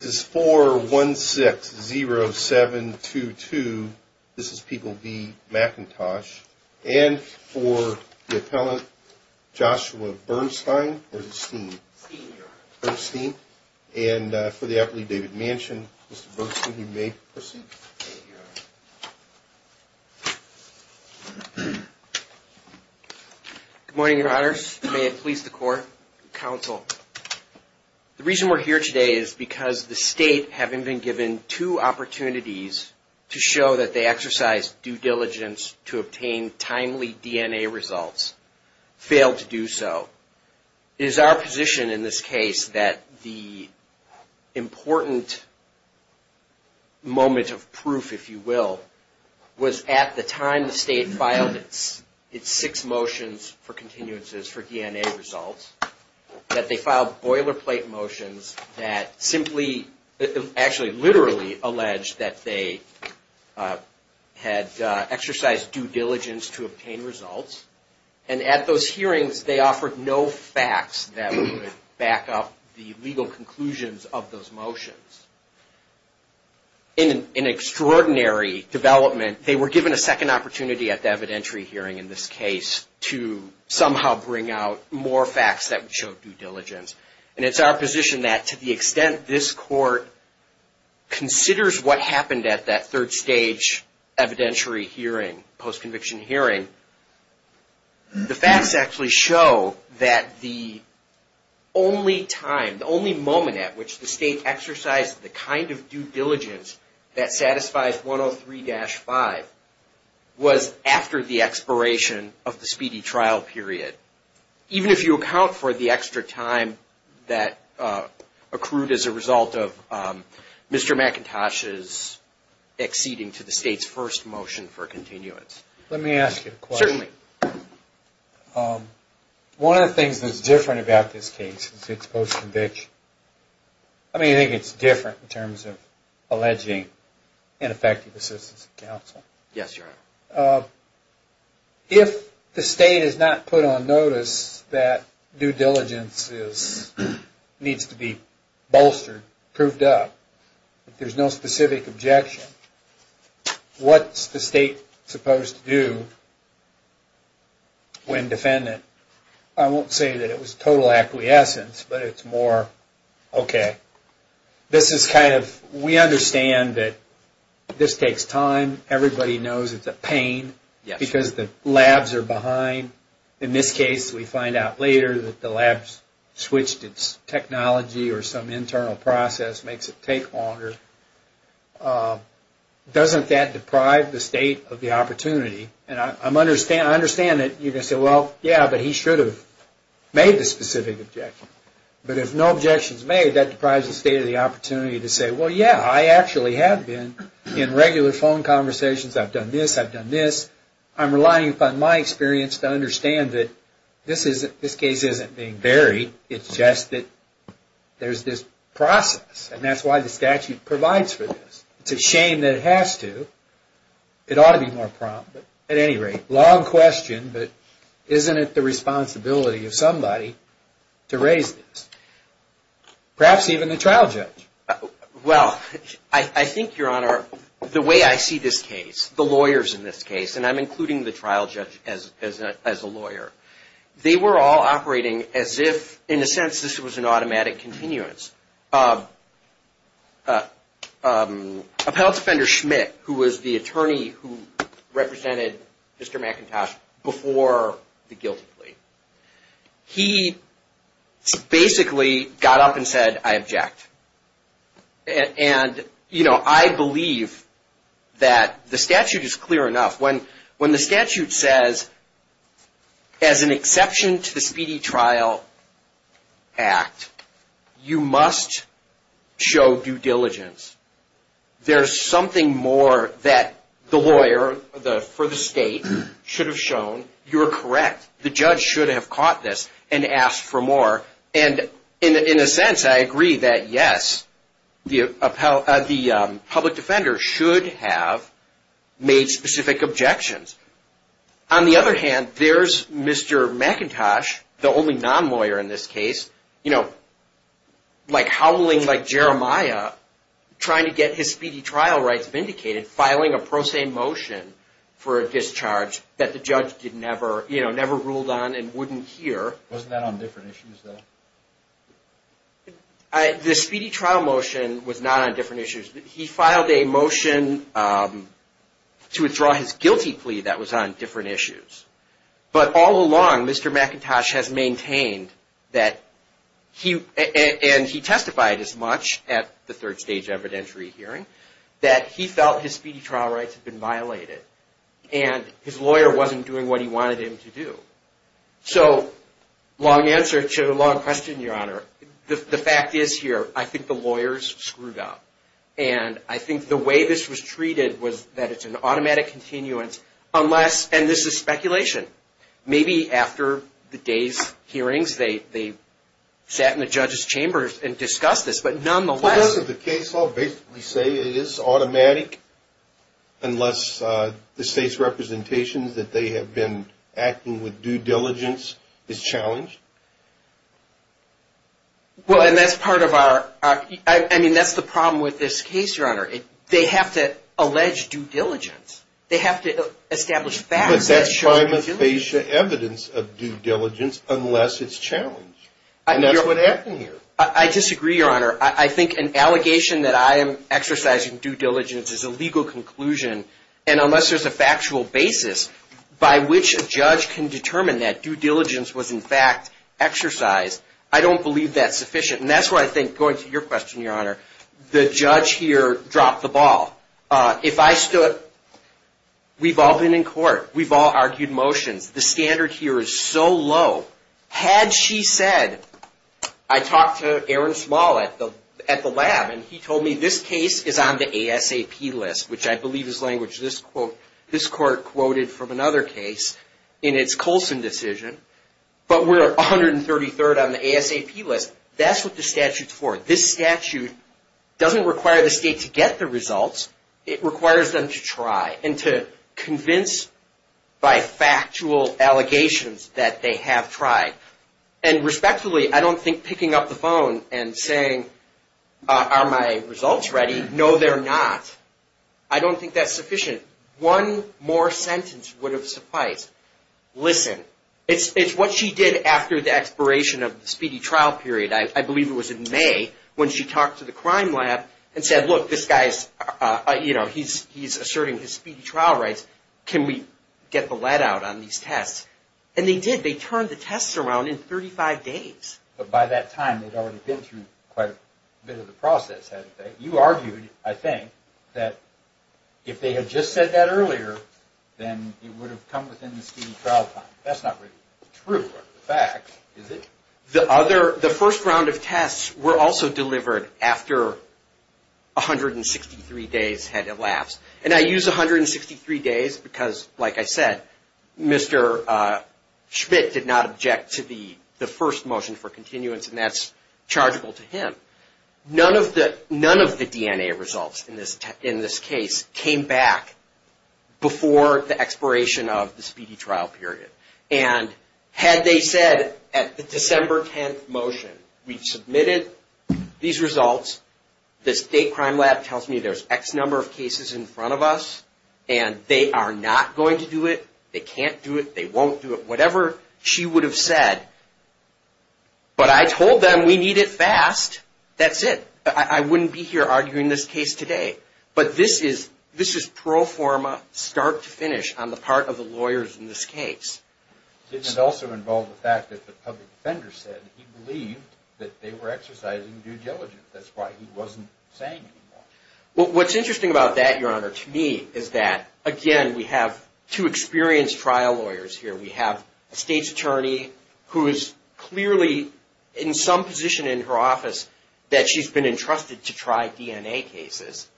is 4160722. This is people be McIntosh and for the appellate Joshua Bernstein, Bernstein, Bernstein and for the athlete David Manchin, Mr. Bernstein, you may proceed. Good morning, your honors. May it please the court counsel. The reason we're here today is because the state, having been given two opportunities to show that they exercise due diligence to obtain timely DNA results, failed to do so. It is our position in this case that the important moment of proof, if you will, was at the time the state filed its six motions for continuances for DNA results, that they filed boilerplate motions that simply, actually literally alleged that they had exercised due diligence to obtain results. And at those hearings, they offered no facts that would back up the legal conclusions of those motions. In an extraordinary development, they were given a second opportunity at the evidentiary hearing in this case to somehow bring out more facts that would show due diligence. And it's our position that to the extent this court considers what happened at that third stage evidentiary hearing, post-conviction hearing, the facts actually show that the only time, the only moment at which the state exercised the kind of due diligence that was after the expiration of the speedy trial period, even if you account for the extra time that accrued as a result of Mr. McIntosh's acceding to the state's first motion for continuance. Let me ask you a question. Certainly. One of the things that's different about this case is it's post-conviction. I mean, I think it's different in terms of alleging ineffective assistance of counsel. Yes, Your Honor. If the state has not put on notice that due diligence needs to be bolstered, proved up, there's no specific objection, what's the state supposed to do when defendant? I won't say that it was total acquiescence, but it's more, okay, this takes time, everybody knows it's a pain because the labs are behind. In this case, we find out later that the labs switched its technology or some internal process makes it take longer. Doesn't that deprive the state of the opportunity? And I understand that you're going to say, well, yeah, but he should have made the specific objection. But if no objection is made, that deprives the state of the opportunity to say, well, yeah, I actually have been in regular phone conversations. I've done this, I've done this. I'm relying upon my experience to understand that this case isn't being buried. It's just that there's this process, and that's why the statute provides for this. It's a shame that it has to. It ought to be more prompt, but at any rate, long question, but isn't it the responsibility of somebody to raise this? Perhaps even the trial judge. Well, I think, Your Honor, the way I see this case, the lawyers in this case, and I'm including the trial judge as a lawyer, they were all operating as if, in a sense, this was an automatic continuance. Appellate Defender Schmidt, who was the attorney who represented Mr. McIntosh before the guilty plea. He basically got up and said, I object. And, you know, I believe that the statute is clear enough. When the statute says, as an exception to the Speedy Trial Act, you must show due diligence. There's something more that the lawyer for the state should have shown. You're correct. The judge should have caught this and asked for more. And in a sense, I agree that, yes, the public defender should have made specific objections. On the other hand, there's Mr. McIntosh, the only non-lawyer in this case, you know, like howling like Jeremiah, trying to get his speedy trial rights vindicated, filing a pro se motion for a discharge that the judge did never, you know, ruled on and wouldn't hear. Wasn't that on different issues, though? The speedy trial motion was not on different issues. He filed a motion to withdraw his guilty plea that was on different issues. But all along, Mr. McIntosh has maintained that he and he testified as much at the third stage evidentiary hearing that he felt his speedy trial rights had been violated and his lawyer wasn't doing what he wanted him to do. So long answer to a long question, Your Honor, the fact is here, I think the lawyers screwed up and I think the way this was treated was that it's an automatic continuance unless and this is speculation. Maybe after the day's hearings, they sat in the judge's chambers and discussed this, but nonetheless, the case will basically say it is automatic unless the state's representations that they have been acting with due diligence is challenged. Well, and that's part of our I mean, that's the problem with this case, Your Honor, they have to allege due diligence. They have to establish facts that show evidence of due diligence unless it's challenged. And that's what happened here. I disagree, Your Honor. I think an allegation that I am exercising due diligence is a legal conclusion. And unless there's a factual basis by which a judge can determine that due diligence was, in fact, exercised, I don't believe that's sufficient. And that's why I think going to your question, Your Honor, the judge here dropped the ball. If I stood, we've all been in court, we've all argued motions. The standard here is so low. Had she said, I talked to Aaron Small at the lab and he told me this case is on the ASAP list, which I believe is language this quote, this court quoted from another case in its Colson decision. But we're 133rd on the ASAP list. That's what the statute's for. This statute doesn't require the state to get the results. It requires them to try and to convince by factual allegations that they have tried. And respectively, I don't think picking up the phone and saying, are my not, I don't think that's sufficient. One more sentence would have sufficed. Listen, it's what she did after the expiration of the speedy trial period. I believe it was in May when she talked to the crime lab and said, look, this guy's, you know, he's he's asserting his speedy trial rights. Can we get the lead out on these tests? And they did. They turned the tests around in 35 days. But by that time, they'd already been through quite a bit of the process. You argued, I think, that if they had just said that earlier, then it would have come within the speedy trial time. That's not really true. The fact is that the other the first round of tests were also delivered after 163 days had elapsed. And I use 163 days because, like I said, Mr. Schmidt did not object to the the first motion for continuance. And that's chargeable to him. None of the none of the DNA results in this in this case came back before the expiration of the speedy trial period. And had they said at the December 10th motion, we've submitted these results. The state crime lab tells me there's X number of cases in front of us and they are not going to do it. They can't do it. They won't do it. Whatever she would have said. But I told them we need it fast. That's it. I wouldn't be here arguing this case today. But this is this is pro forma, start to finish on the part of the lawyers in this case. It also involved the fact that the public defender said he believed that they were exercising due diligence. That's why he wasn't saying. Well, what's interesting about that, Your Honor, to me is that, again, we have two experienced trial lawyers here. We have a state's attorney who is clearly in some position in her office that she's been entrusted to try DNA cases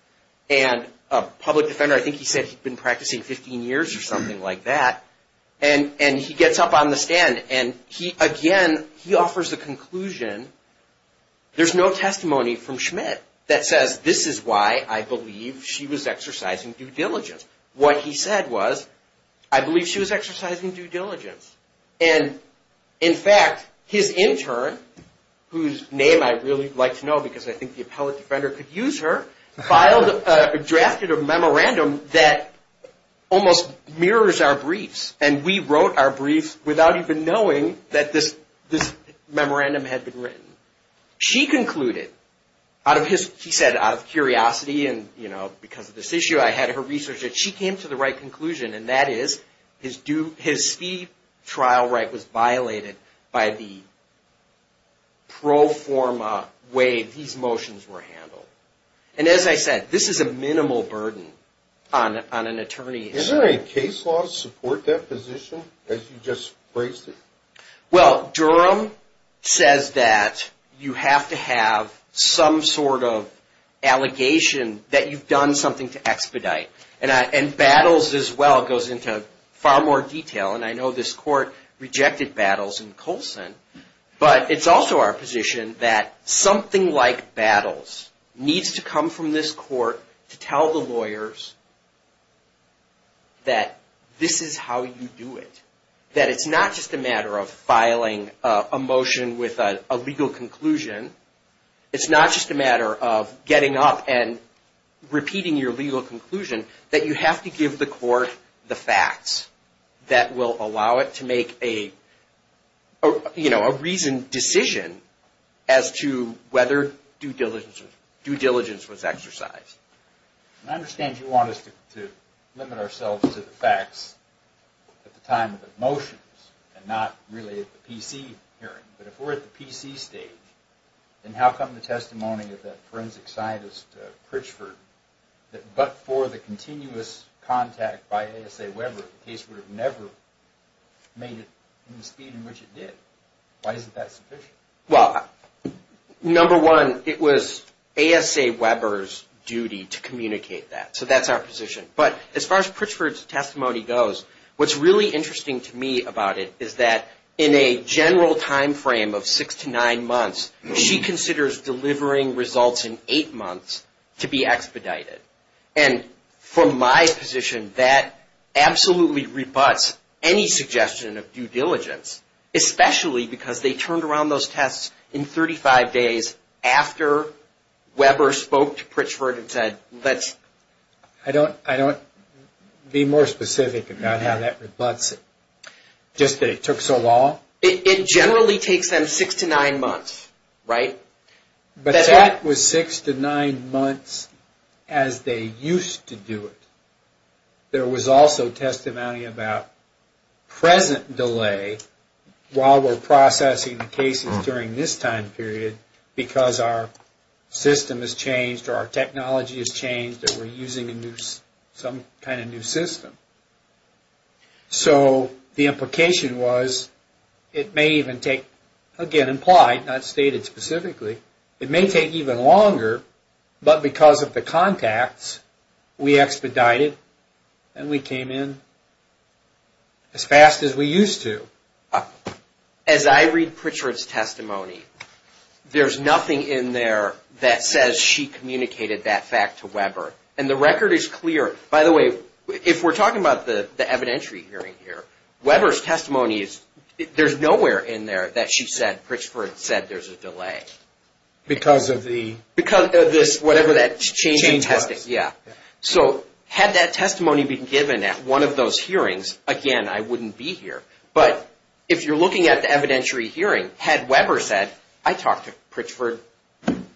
and a public defender. I think he said he'd been practicing 15 years or something like that. And and he gets up on the stand and he again, he offers the conclusion. There's no testimony from Schmidt that says this is why I believe she was exercising due diligence. What he said was, I believe she was exercising due diligence. And in fact, his intern, whose name I really like to know because I think the appellate defender could use her, filed a drafted a memorandum that almost mirrors our briefs. And we wrote our briefs without even knowing that this this memorandum had been written. She concluded out of his, he said, out of curiosity and because of this she came to the right conclusion. And that is his due, his fee trial right was violated by the pro forma way these motions were handled. And as I said, this is a minimal burden on an attorney. Is there a case law to support that position as you just phrased it? Well, Durham says that you have to have some sort of allegation that you've done something to expedite. And battles as well goes into far more detail. And I know this court rejected battles in Colson. But it's also our position that something like battles needs to come from this court to tell the lawyers that this is how you do it. That it's not just a matter of filing a motion with a legal conclusion. It's not just a matter of getting up and repeating your legal conclusion that you have to give the court the facts that will allow it to make a, you know, a reasoned decision as to whether due diligence was exercised. I understand you want us to limit ourselves to the facts at the time of the motions and not really at the PC hearing. But if we're at the PC stage, then how come the testimony of that forensic scientist, Pritchford, that but for the continuous contact by A.S.A. Weber, the case would have never made it in the speed in which it did. Why isn't that sufficient? Well, number one, it was A.S.A. Weber's duty to communicate that. So that's our position. But as far as Pritchford's testimony goes, what's really interesting to me about it is that in a general time frame of six to nine months, she considers delivering results in eight months to be expedited. And from my position, that absolutely rebuts any suggestion of due diligence, especially because they turned around those tests in 35 days after Weber spoke to Pritchford and said, let's. I don't I don't be more specific about how that rebuts it. Just that it took so long? It generally takes them six to nine months, right? But that was six to nine months as they used to do it. There was also testimony about present delay while we're processing the cases during this time period because our system has changed or our technology has changed or we're using a new some kind of new system. So the implication was it may even take again, implied, not stated specifically, it may take even longer, but because of the contacts, we expedited and we came in as fast as we used to. As I read Pritchford's testimony, there's nothing in there that says she communicated that fact to Weber. And the record is clear. By the way, if we're talking about the evidentiary hearing here, Weber's testimony is there's nowhere in there that she said Pritchford said there's a delay because of the because of this, whatever that changing testing. Yeah. So had that testimony been given at one of those hearings again, I wouldn't be here. But if you're looking at the evidentiary hearing, had Weber said, I talked to Pritchford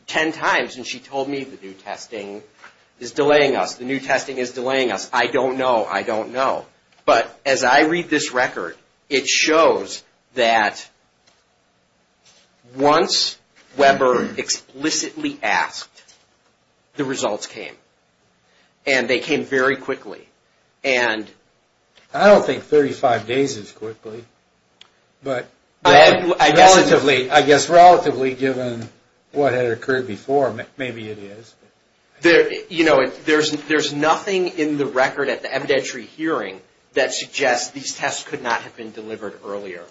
10 times and she told me the new testing is delaying us. The new testing is delaying us. I don't know. I don't know. But as I read this record, it shows that once Weber explicitly asked, the results came and they came very quickly. And I don't think 35 days is quickly, but I guess relatively, I guess relatively given what had occurred before, maybe it is. There you know, there's there's nothing in the record at the evidentiary hearing that suggests these tests could not have been delivered earlier.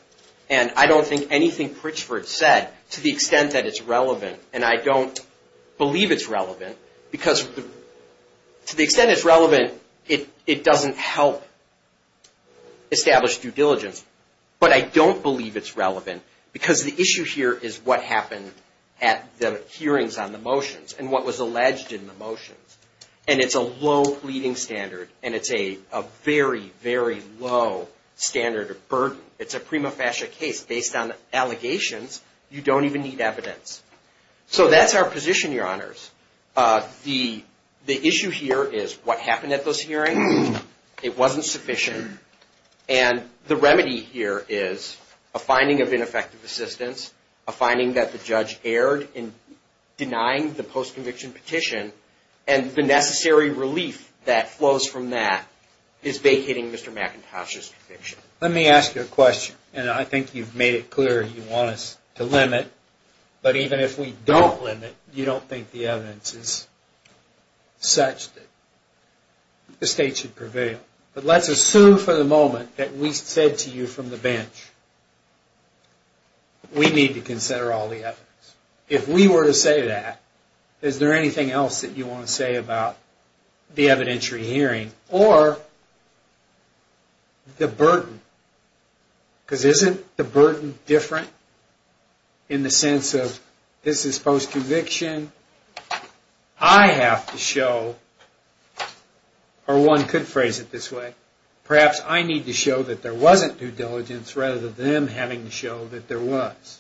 And I don't think anything Pritchford said to the extent that it's relevant. And I don't believe it's relevant because to the extent it's relevant, it doesn't help establish due diligence. But I don't believe it's relevant because the issue here is what happened at the hearings on the motions and what was alleged in the motions. And it's a low pleading standard and it's a very, very low standard of burden. It's a prima facie case based on allegations. You don't even need evidence. So that's our position, Your Honors. The the issue here is what happened at those hearings. It wasn't sufficient. And the remedy here is a finding of ineffective assistance, a finding that the denying the post-conviction petition and the necessary relief that flows from that is vacating Mr. McIntosh's conviction. Let me ask you a question. And I think you've made it clear you want us to limit. But even if we don't limit, you don't think the evidence is such that the state should prevail. But let's assume for the moment that we said to you from the bench, we need to consider all the evidence. If we were to say that, is there anything else that you want to say about the evidentiary hearing or the burden? Because isn't the burden different in the sense of this is post-conviction? I have to show, or one could phrase it this way, perhaps I need to show that there wasn't due diligence rather than them having to show that there was.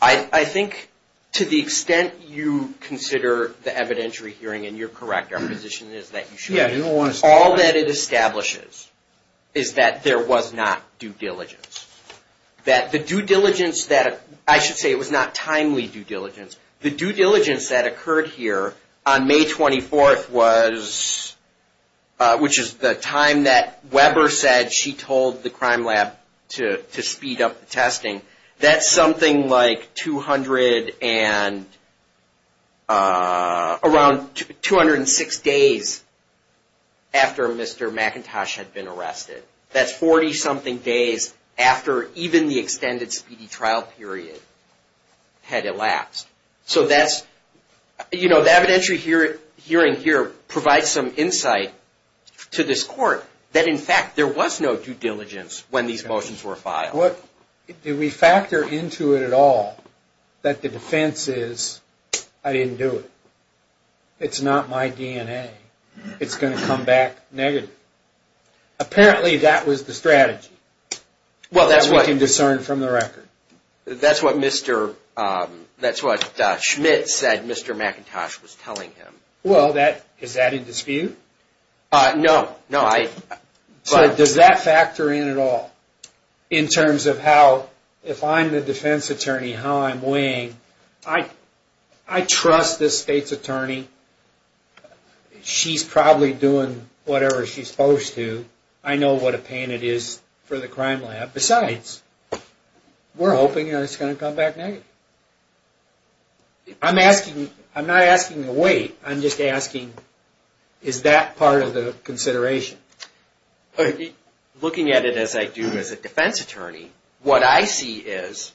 I think to the extent you consider the evidentiary hearing, and you're correct, our position is that you should, all that it establishes is that there was not due diligence, that the due diligence that I should say it was not timely due diligence. The due diligence that occurred here on May 24th was, which is the time that Weber said she told the crime lab to speed up the testing. That's something like 200 and, around 206 days after Mr. McIntosh had been arrested. That's 40 something days after even the extended speedy trial period had elapsed. So that's, you know, the evidentiary hearing here provides some insight to this court that, in fact, there was no due diligence when these motions were filed. What, do we factor into it at all that the defense is, I didn't do it. It's not my DNA. It's going to come back negative. Apparently that was the strategy. Well, that's what we can discern from the record. That's what Mr., that's what Schmidt said Mr. McIntosh was telling him. Well, that, is that in dispute? No, no. But does that factor in at all? In terms of how, if I'm the defense attorney, how I'm weighing, I, I trust this state's attorney. She's probably doing whatever she's supposed to. I know what a pain it is for the crime lab. Besides, we're hoping it's going to come back negative. I'm asking, I'm not asking the weight. I'm just asking, is that part of the consideration? Looking at it as I do as a defense attorney, what I see is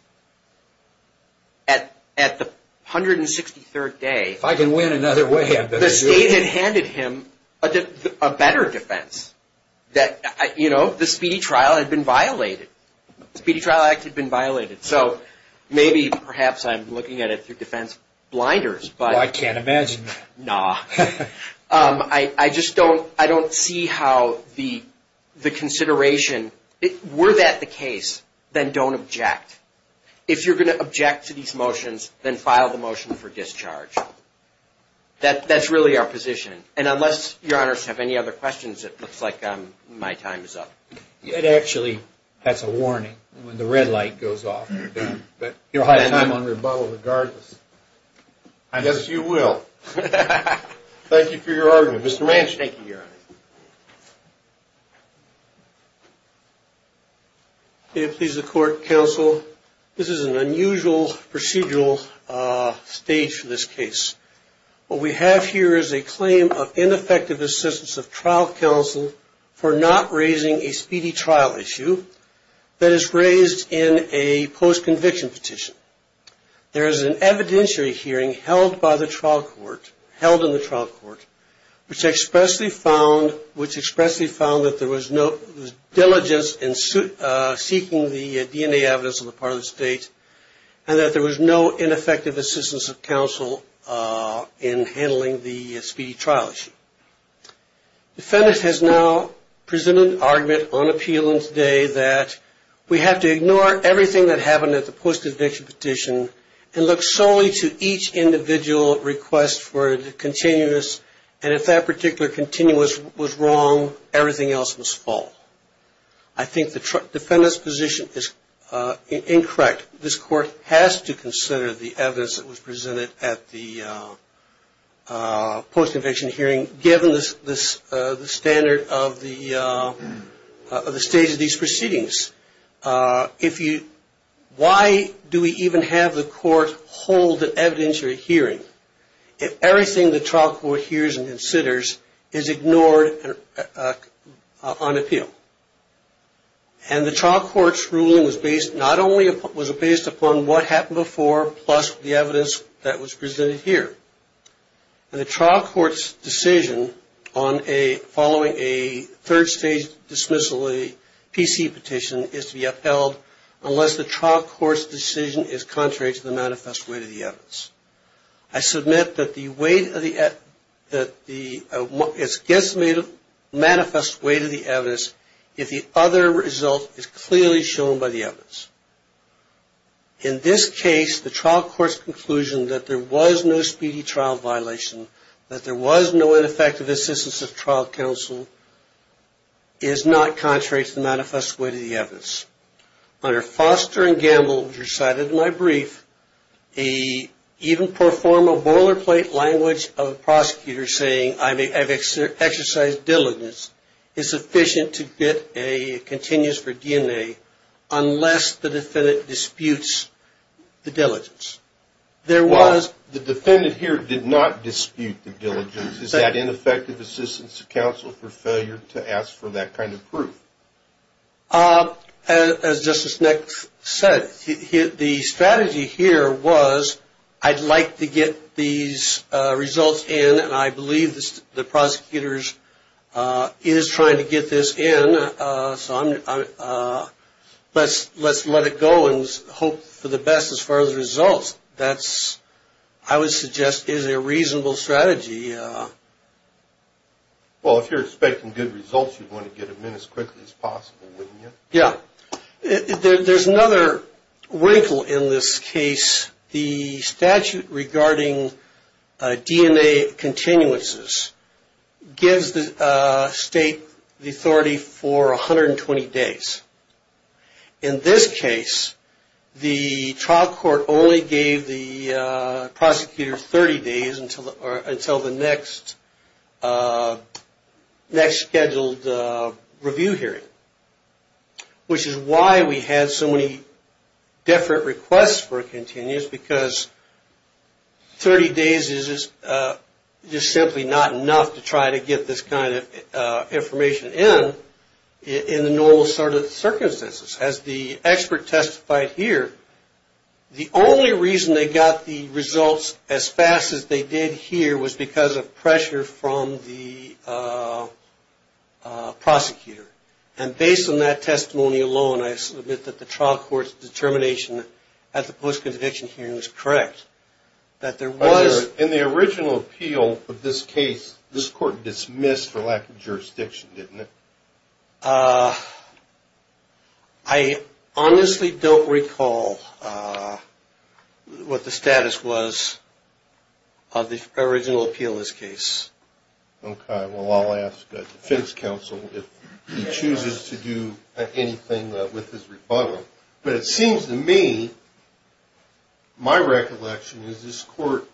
at, at the 163rd day, if I can win another way, the state had handed him a better defense that, you know, the speedy trial had been violated. Speedy trial act had been violated. So maybe, perhaps I'm looking at it through defense blinders, but I can't imagine that. Nah. Um, I, I just don't, I don't see how the, the consideration, were that the case, then don't object. If you're going to object to these motions, then file the motion for discharge. That, that's really our position. And unless your honors have any other questions, it looks like, um, my time is up. It actually, that's a warning when the red light goes off, but you'll have time on rebuttal regardless. I guess you will. Thank you for your argument. Mr. Manchin. Thank you, your honor. May it please the court, counsel. This is an unusual procedural, uh, stage for this case. What we have here is a claim of ineffective assistance of trial counsel for not raising a speedy trial issue that is raised in a post-conviction petition. There is an evidentiary hearing held by the trial court, held in the trial court, which expressly found, which expressly found that there was no diligence in suit, uh, seeking the DNA evidence on the part of the state and that there was no ineffective assistance of counsel, uh, in handling the speedy trial issue. Defendant has now presented an argument on appeal on today that we have to ignore everything that happened at the post-conviction petition and look solely to each individual request for the continuous. And if that particular continuous was wrong, everything else was fault. I think the defendant's position is, uh, incorrect. This court has to consider the evidence that was presented at the, uh, uh, post conviction hearing, given this, this, uh, the standard of the, uh, uh, the stage of these proceedings, uh, if you, why do we even have the court hold an evidentiary hearing if everything the trial court hears and considers is ignored, uh, uh, on appeal and the trial court's ruling was based, not only was it based upon what happened before, plus the evidence that was presented here and the trial court's decision on a, following a third stage dismissal, a PC petition is to be upheld unless the trial court's decision is contrary to the manifest way to the evidence. I submit that the weight of the, uh, that the, uh, it's guesstimated manifest way to the evidence if the other result is clearly shown by the evidence. In this case, the trial court's conclusion that there was no speedy trial violation, that there was no ineffective assistance of trial counsel is not contrary to the manifest way to the evidence. Under Foster and Gamble, which were cited in my brief, a, even perform a boilerplate language of a prosecutor saying I may have exercised diligence is sufficient to get a continuous for DNA unless the defendant disputes the diligence. There was, the defendant here did not dispute the diligence. Is that ineffective assistance of counsel for failure to ask for that kind of proof? Uh, as justice next said, the strategy here was, I'd like to get these results in. And I believe this, the prosecutors, uh, is trying to get this in, uh, some, uh, let's, let's let it go and hope for the best as far as the results. That's, I would suggest is a reasonable strategy. Uh, Well, if you're expecting good results, you'd want to get them in as quickly as possible, wouldn't you? Yeah. There's another wrinkle in this case, the statute regarding, uh, DNA continuances gives the, uh, state the authority for 120 days. In this case, the trial court only gave the, uh, prosecutor 30 days until the, or until the next, uh, next scheduled, uh, review hearing, which is why we had so many different requests for a continuous because 30 days is, uh, just simply not enough to try to get this kind of, uh, information in, in the normal sort of circumstances as the expert testified here, the only reason they got the results as fast as they did here was because of pressure from the, uh, uh, prosecutor. And based on that testimony alone, I submit that the trial court's determination at the post-conviction hearing is correct. That there was in the original appeal of this case, this court dismissed for lack of jurisdiction, didn't it? Uh, I honestly don't recall, uh, what the status was of the original appeal, this case. Okay. Well, I'll ask a defense counsel if he chooses to do anything with his rebuttal, but it seems to me, my recollection is this court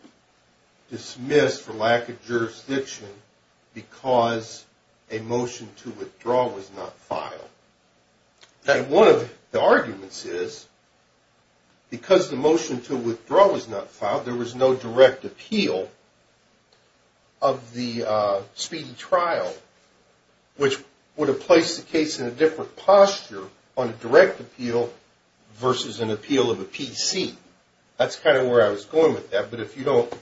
dismissed for lack of jurisdiction. So the motion to withdraw was not filed that one of the arguments is because the motion to withdraw was not filed, there was no direct appeal of the, uh, speedy trial, which would have placed the case in a different posture on a direct appeal versus an appeal of a PC. That's kind of where I was going with that. But if you don't,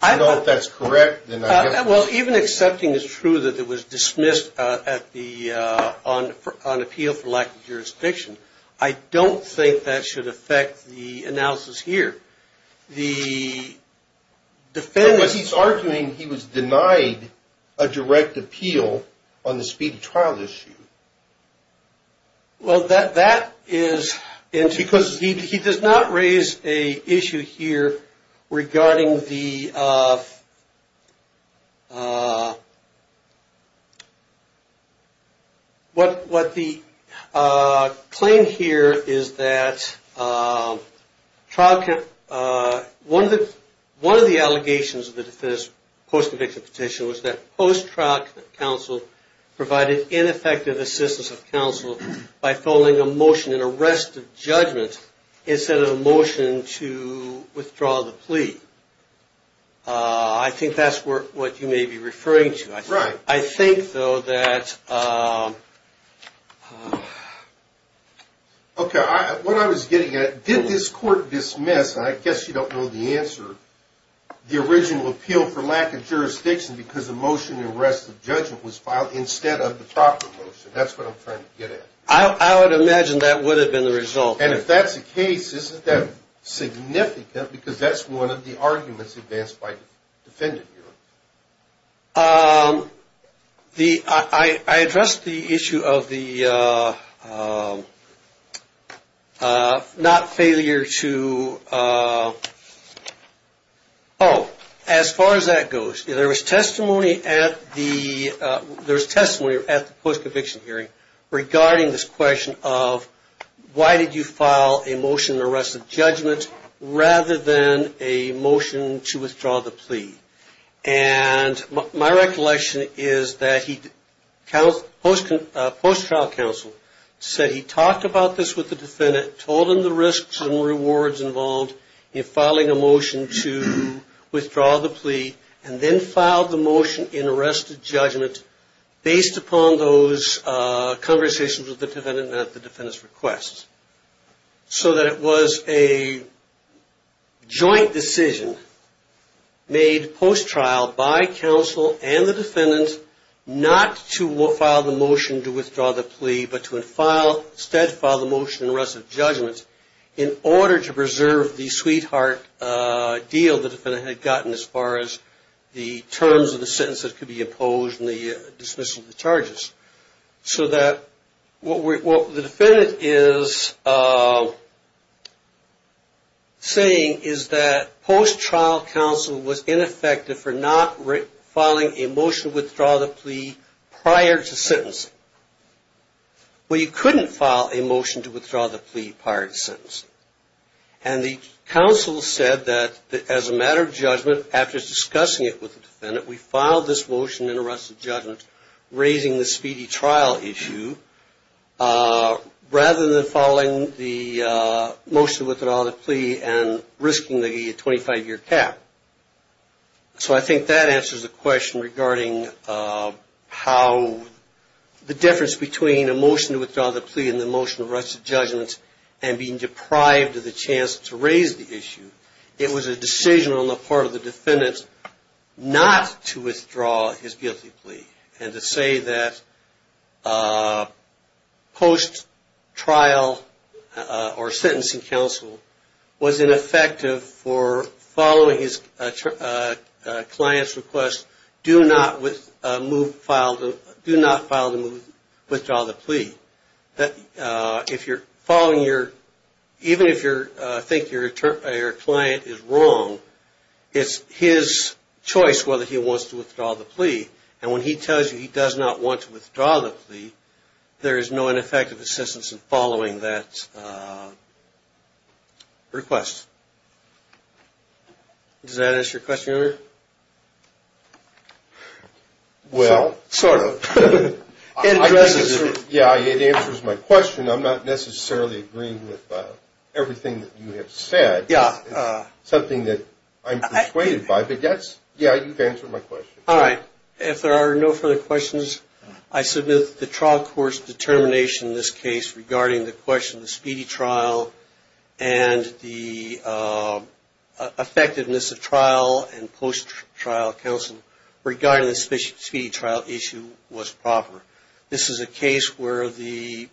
I don't know if that's correct. Well, even accepting is true that it was dismissed, uh, at the, uh, on, on appeal for lack of jurisdiction. I don't think that should affect the analysis here. The defendants... But he's arguing he was denied a direct appeal on the speedy trial issue. Well, that, that is... Because he, he does not raise a issue here regarding the, uh, uh, what, what the, uh, claim here is that, uh, trial, uh, one of the, one of the allegations of the defense post eviction petition was that post trial counsel provided ineffective assistance of counsel by following a motion in arrest of judgment instead of a motion to withdraw the plea. Uh, I think that's what you may be referring to. I think though that, um... Okay. I, what I was getting at, did this court dismiss, and I guess you don't know the answer, the original appeal for lack of jurisdiction because the motion in arrest of judgment was filed instead of the proper motion. That's what I'm trying to get at. I would imagine that would have been the result. And if that's the case, isn't that significant? Because that's one of the arguments advanced by defendant here. Um, the, I, I addressed the issue of the, uh, uh, uh, not failure to, uh, oh, as far as that goes, there was testimony at the, uh, there's testimony at the post eviction hearing regarding this question of why did you file a motion in arrest of judgment rather than a motion to withdraw the plea? And my recollection is that he counts post, uh, post trial counsel said he talked about this with the defendant, told him the risks and rewards involved in filing a motion to withdraw the plea and then filed the motion in arrest of judgment based upon those, uh, conversations with the defendant at the defendant's requests. So that it was a joint decision made post trial by counsel and the defendants, not to file the motion to withdraw the plea, but to file, instead file the motion in arrest of judgment in order to preserve the sweetheart, uh, deal the defendant had gotten as far as the terms of the sentence that could be imposed and the charges so that what we, what the defendant is, uh, saying is that post trial counsel was ineffective for not filing a motion to withdraw the plea prior to sentence. Well, you couldn't file a motion to withdraw the plea prior to sentence. And the counsel said that as a matter of judgment, after discussing it with the raising the speedy trial issue, uh, rather than following the, uh, most of withdrawal of the plea and risking the 25 year cap. So I think that answers the question regarding, uh, how the difference between a motion to withdraw the plea and the motion of arrest of judgment and being deprived of the chance to raise the issue. It was a decision on the part of the defendants not to withdraw his guilty plea and to say that, uh, post trial, uh, or sentencing counsel was ineffective for following his, uh, uh, client's request. Do not with a move file, do not file the move, withdraw the plea that, uh, if you're following your, even if you're thinking your client is wrong, it's his and when he tells you he does not want to withdraw the plea, there is no ineffective assistance in following that, uh, request. Does that answer your question? Well, sort of. Yeah, it answers my question. I'm not necessarily agreeing with, uh, everything that you have said. Yeah. Uh, something that I'm persuaded by, but that's, yeah, you've answered my question. All right. If there are no further questions, I submit the trial court's determination in this case regarding the question, the speedy trial and the, uh, uh, effectiveness of trial and post trial counsel regarding the speedy trial issue was proper. This is a case where the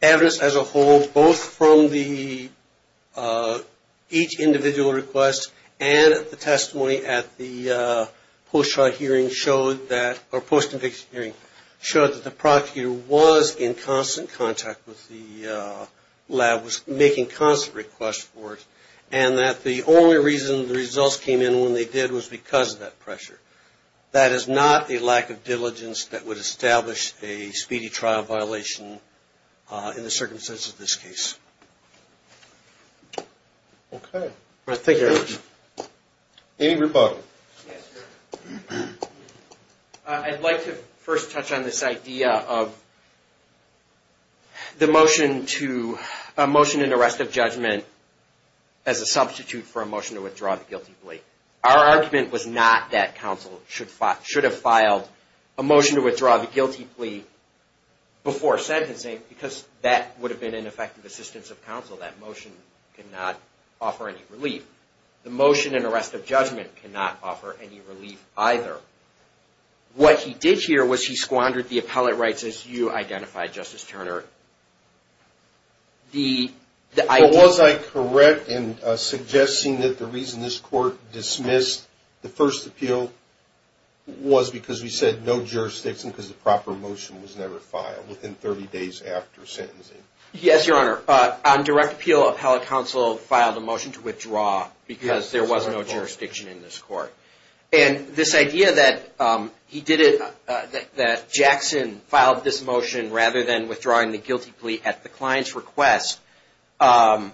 evidence as a whole, both from the, uh, each individual request and the testimony at the, uh, post trial hearing showed that, or post conviction hearing, showed that the prosecutor was in constant contact with the, uh, lab, was making constant requests for it and that the only reason the results came in when they did was because of that pressure. That is not a lack of diligence that would establish a speedy trial violation, uh, in the circumstances of this case. Okay. All right. Thank you very much. Amy Reboto. Uh, I'd like to first touch on this idea of the motion to, a motion and arrest of judgment as a substitute for a motion to withdraw the guilty plea. Our argument was not that counsel should, should have filed a motion to withdraw the guilty plea before sentencing, because that would have been ineffective assistance of counsel. That motion could not offer any relief. The motion and arrest of judgment cannot offer any relief either. What he did here was he squandered the appellate rights as you identified Justice Turner. The, the idea. Was I correct in suggesting that the reason this court dismissed the first appeal was because we said no jurisdiction because the proper motion was never filed within 30 days after sentencing? Yes, Your Honor. Uh, on direct appeal, appellate counsel filed a motion to withdraw because there was no jurisdiction in this court. And this idea that, um, he did it, uh, that, that Jackson filed this motion rather than withdrawing the guilty plea at the client's request, um,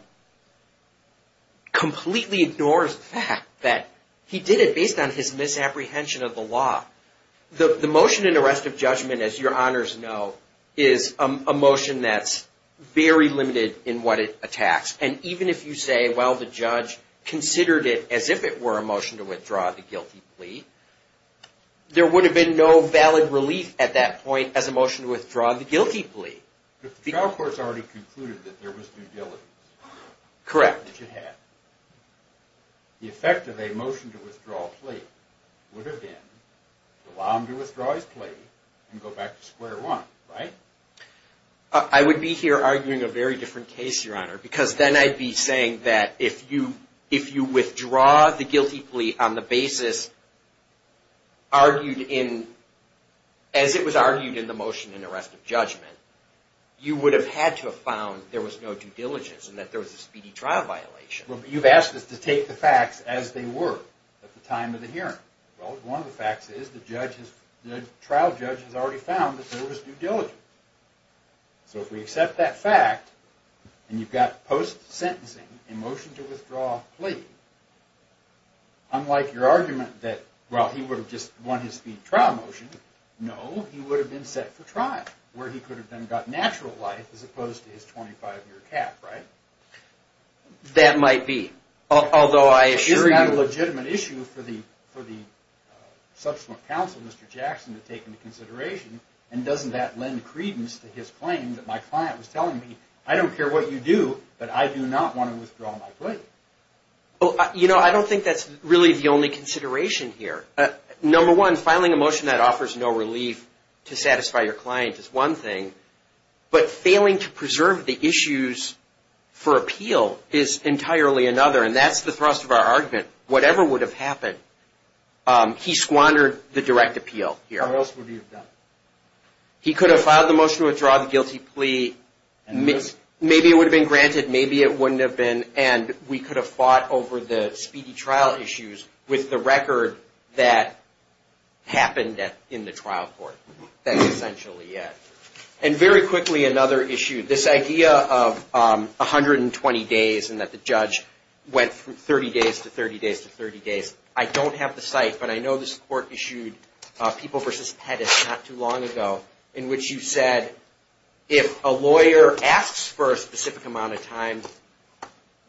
completely ignores the fact that he did it based on his misapprehension of the law. The, the motion and arrest of judgment, as Your Honors know, is a motion that's very limited in what it attacks. And even if you say, well, the judge considered it as if it were a motion to withdraw the guilty plea, there would have been no valid relief at that point as a motion to withdraw the guilty plea. But the trial court's already concluded that there was due diligence. Correct. The effect of a motion to withdraw plea would have been to allow him to withdraw his plea and go back to square one, right? I would be here arguing a very different case, Your Honor, because then I'd be saying that if you, if you withdraw the guilty plea on the basis argued in, as it was argued in the motion and arrest of judgment, you would have had to have found there was no due diligence and that there was a speedy trial violation. Well, you've asked us to take the facts as they were at the time of the hearing. Well, one of the facts is the judge has, the trial judge has already found that there was due diligence. So if we accept that fact and you've got post sentencing, a motion to withdraw plea, unlike your argument that, well, he would have just won his speed trial motion, no, he would have been set for trial where he could have then got natural life as opposed to his 25 year cap, right? That might be. Although I assure you... Isn't that a legitimate issue for the, for the subsequent counsel, Mr. Jackson to take into consideration and doesn't that lend credence to his claim that my client was telling me, I don't care what you do, but I do not want to withdraw my plea. Well, you know, I don't think that's really the only consideration here. Number one, filing a motion that offers no relief to satisfy your client is one thing, but failing to preserve the issues for appeal is entirely another. And that's the thrust of our argument. Whatever would have happened, he squandered the direct appeal here. What else would he have done? He could have filed the motion to withdraw the guilty plea. Maybe it would have been granted. Maybe it wouldn't have been. And we could have fought over the speedy trial issues with the record that happened in the trial court. That's essentially it. And very quickly, another issue, this idea of 120 days and that the judge went from 30 days to 30 days to 30 days. I don't have the site, but I know this court issued People v. Pettis not too long ago, in which you said, if a lawyer asks for a specific amount of time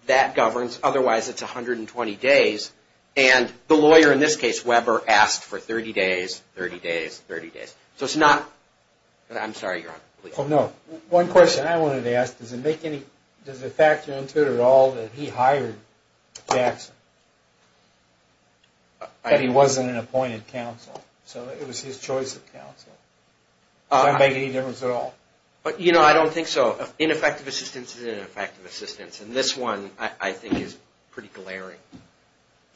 that governs, otherwise it's 120 days. And the lawyer in this case, Weber, asked for 30 days, 30 days, 30 days. So it's not, I'm sorry, Your Honor, please. Oh, no. One question I wanted to ask, does it make any, does it factor into it at all that he hired Jackson, that he wasn't an appointed counsel? So it was his choice of counsel. Does that make any difference at all? But, you know, I don't think so. Ineffective assistance is ineffective assistance. And this one I think is pretty glaring.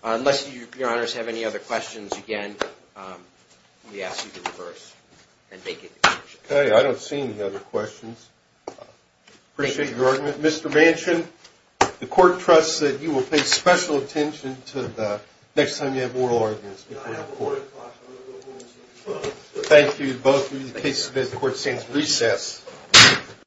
Unless you, Your Honors, have any other questions, again, we ask you to reverse and make a decision. Okay. I don't see any other questions. Appreciate your argument. Mr. Manchin, the court trusts that you will pay special attention to the next time you have oral arguments before the court. Thank you both. In the case, the court sends recess.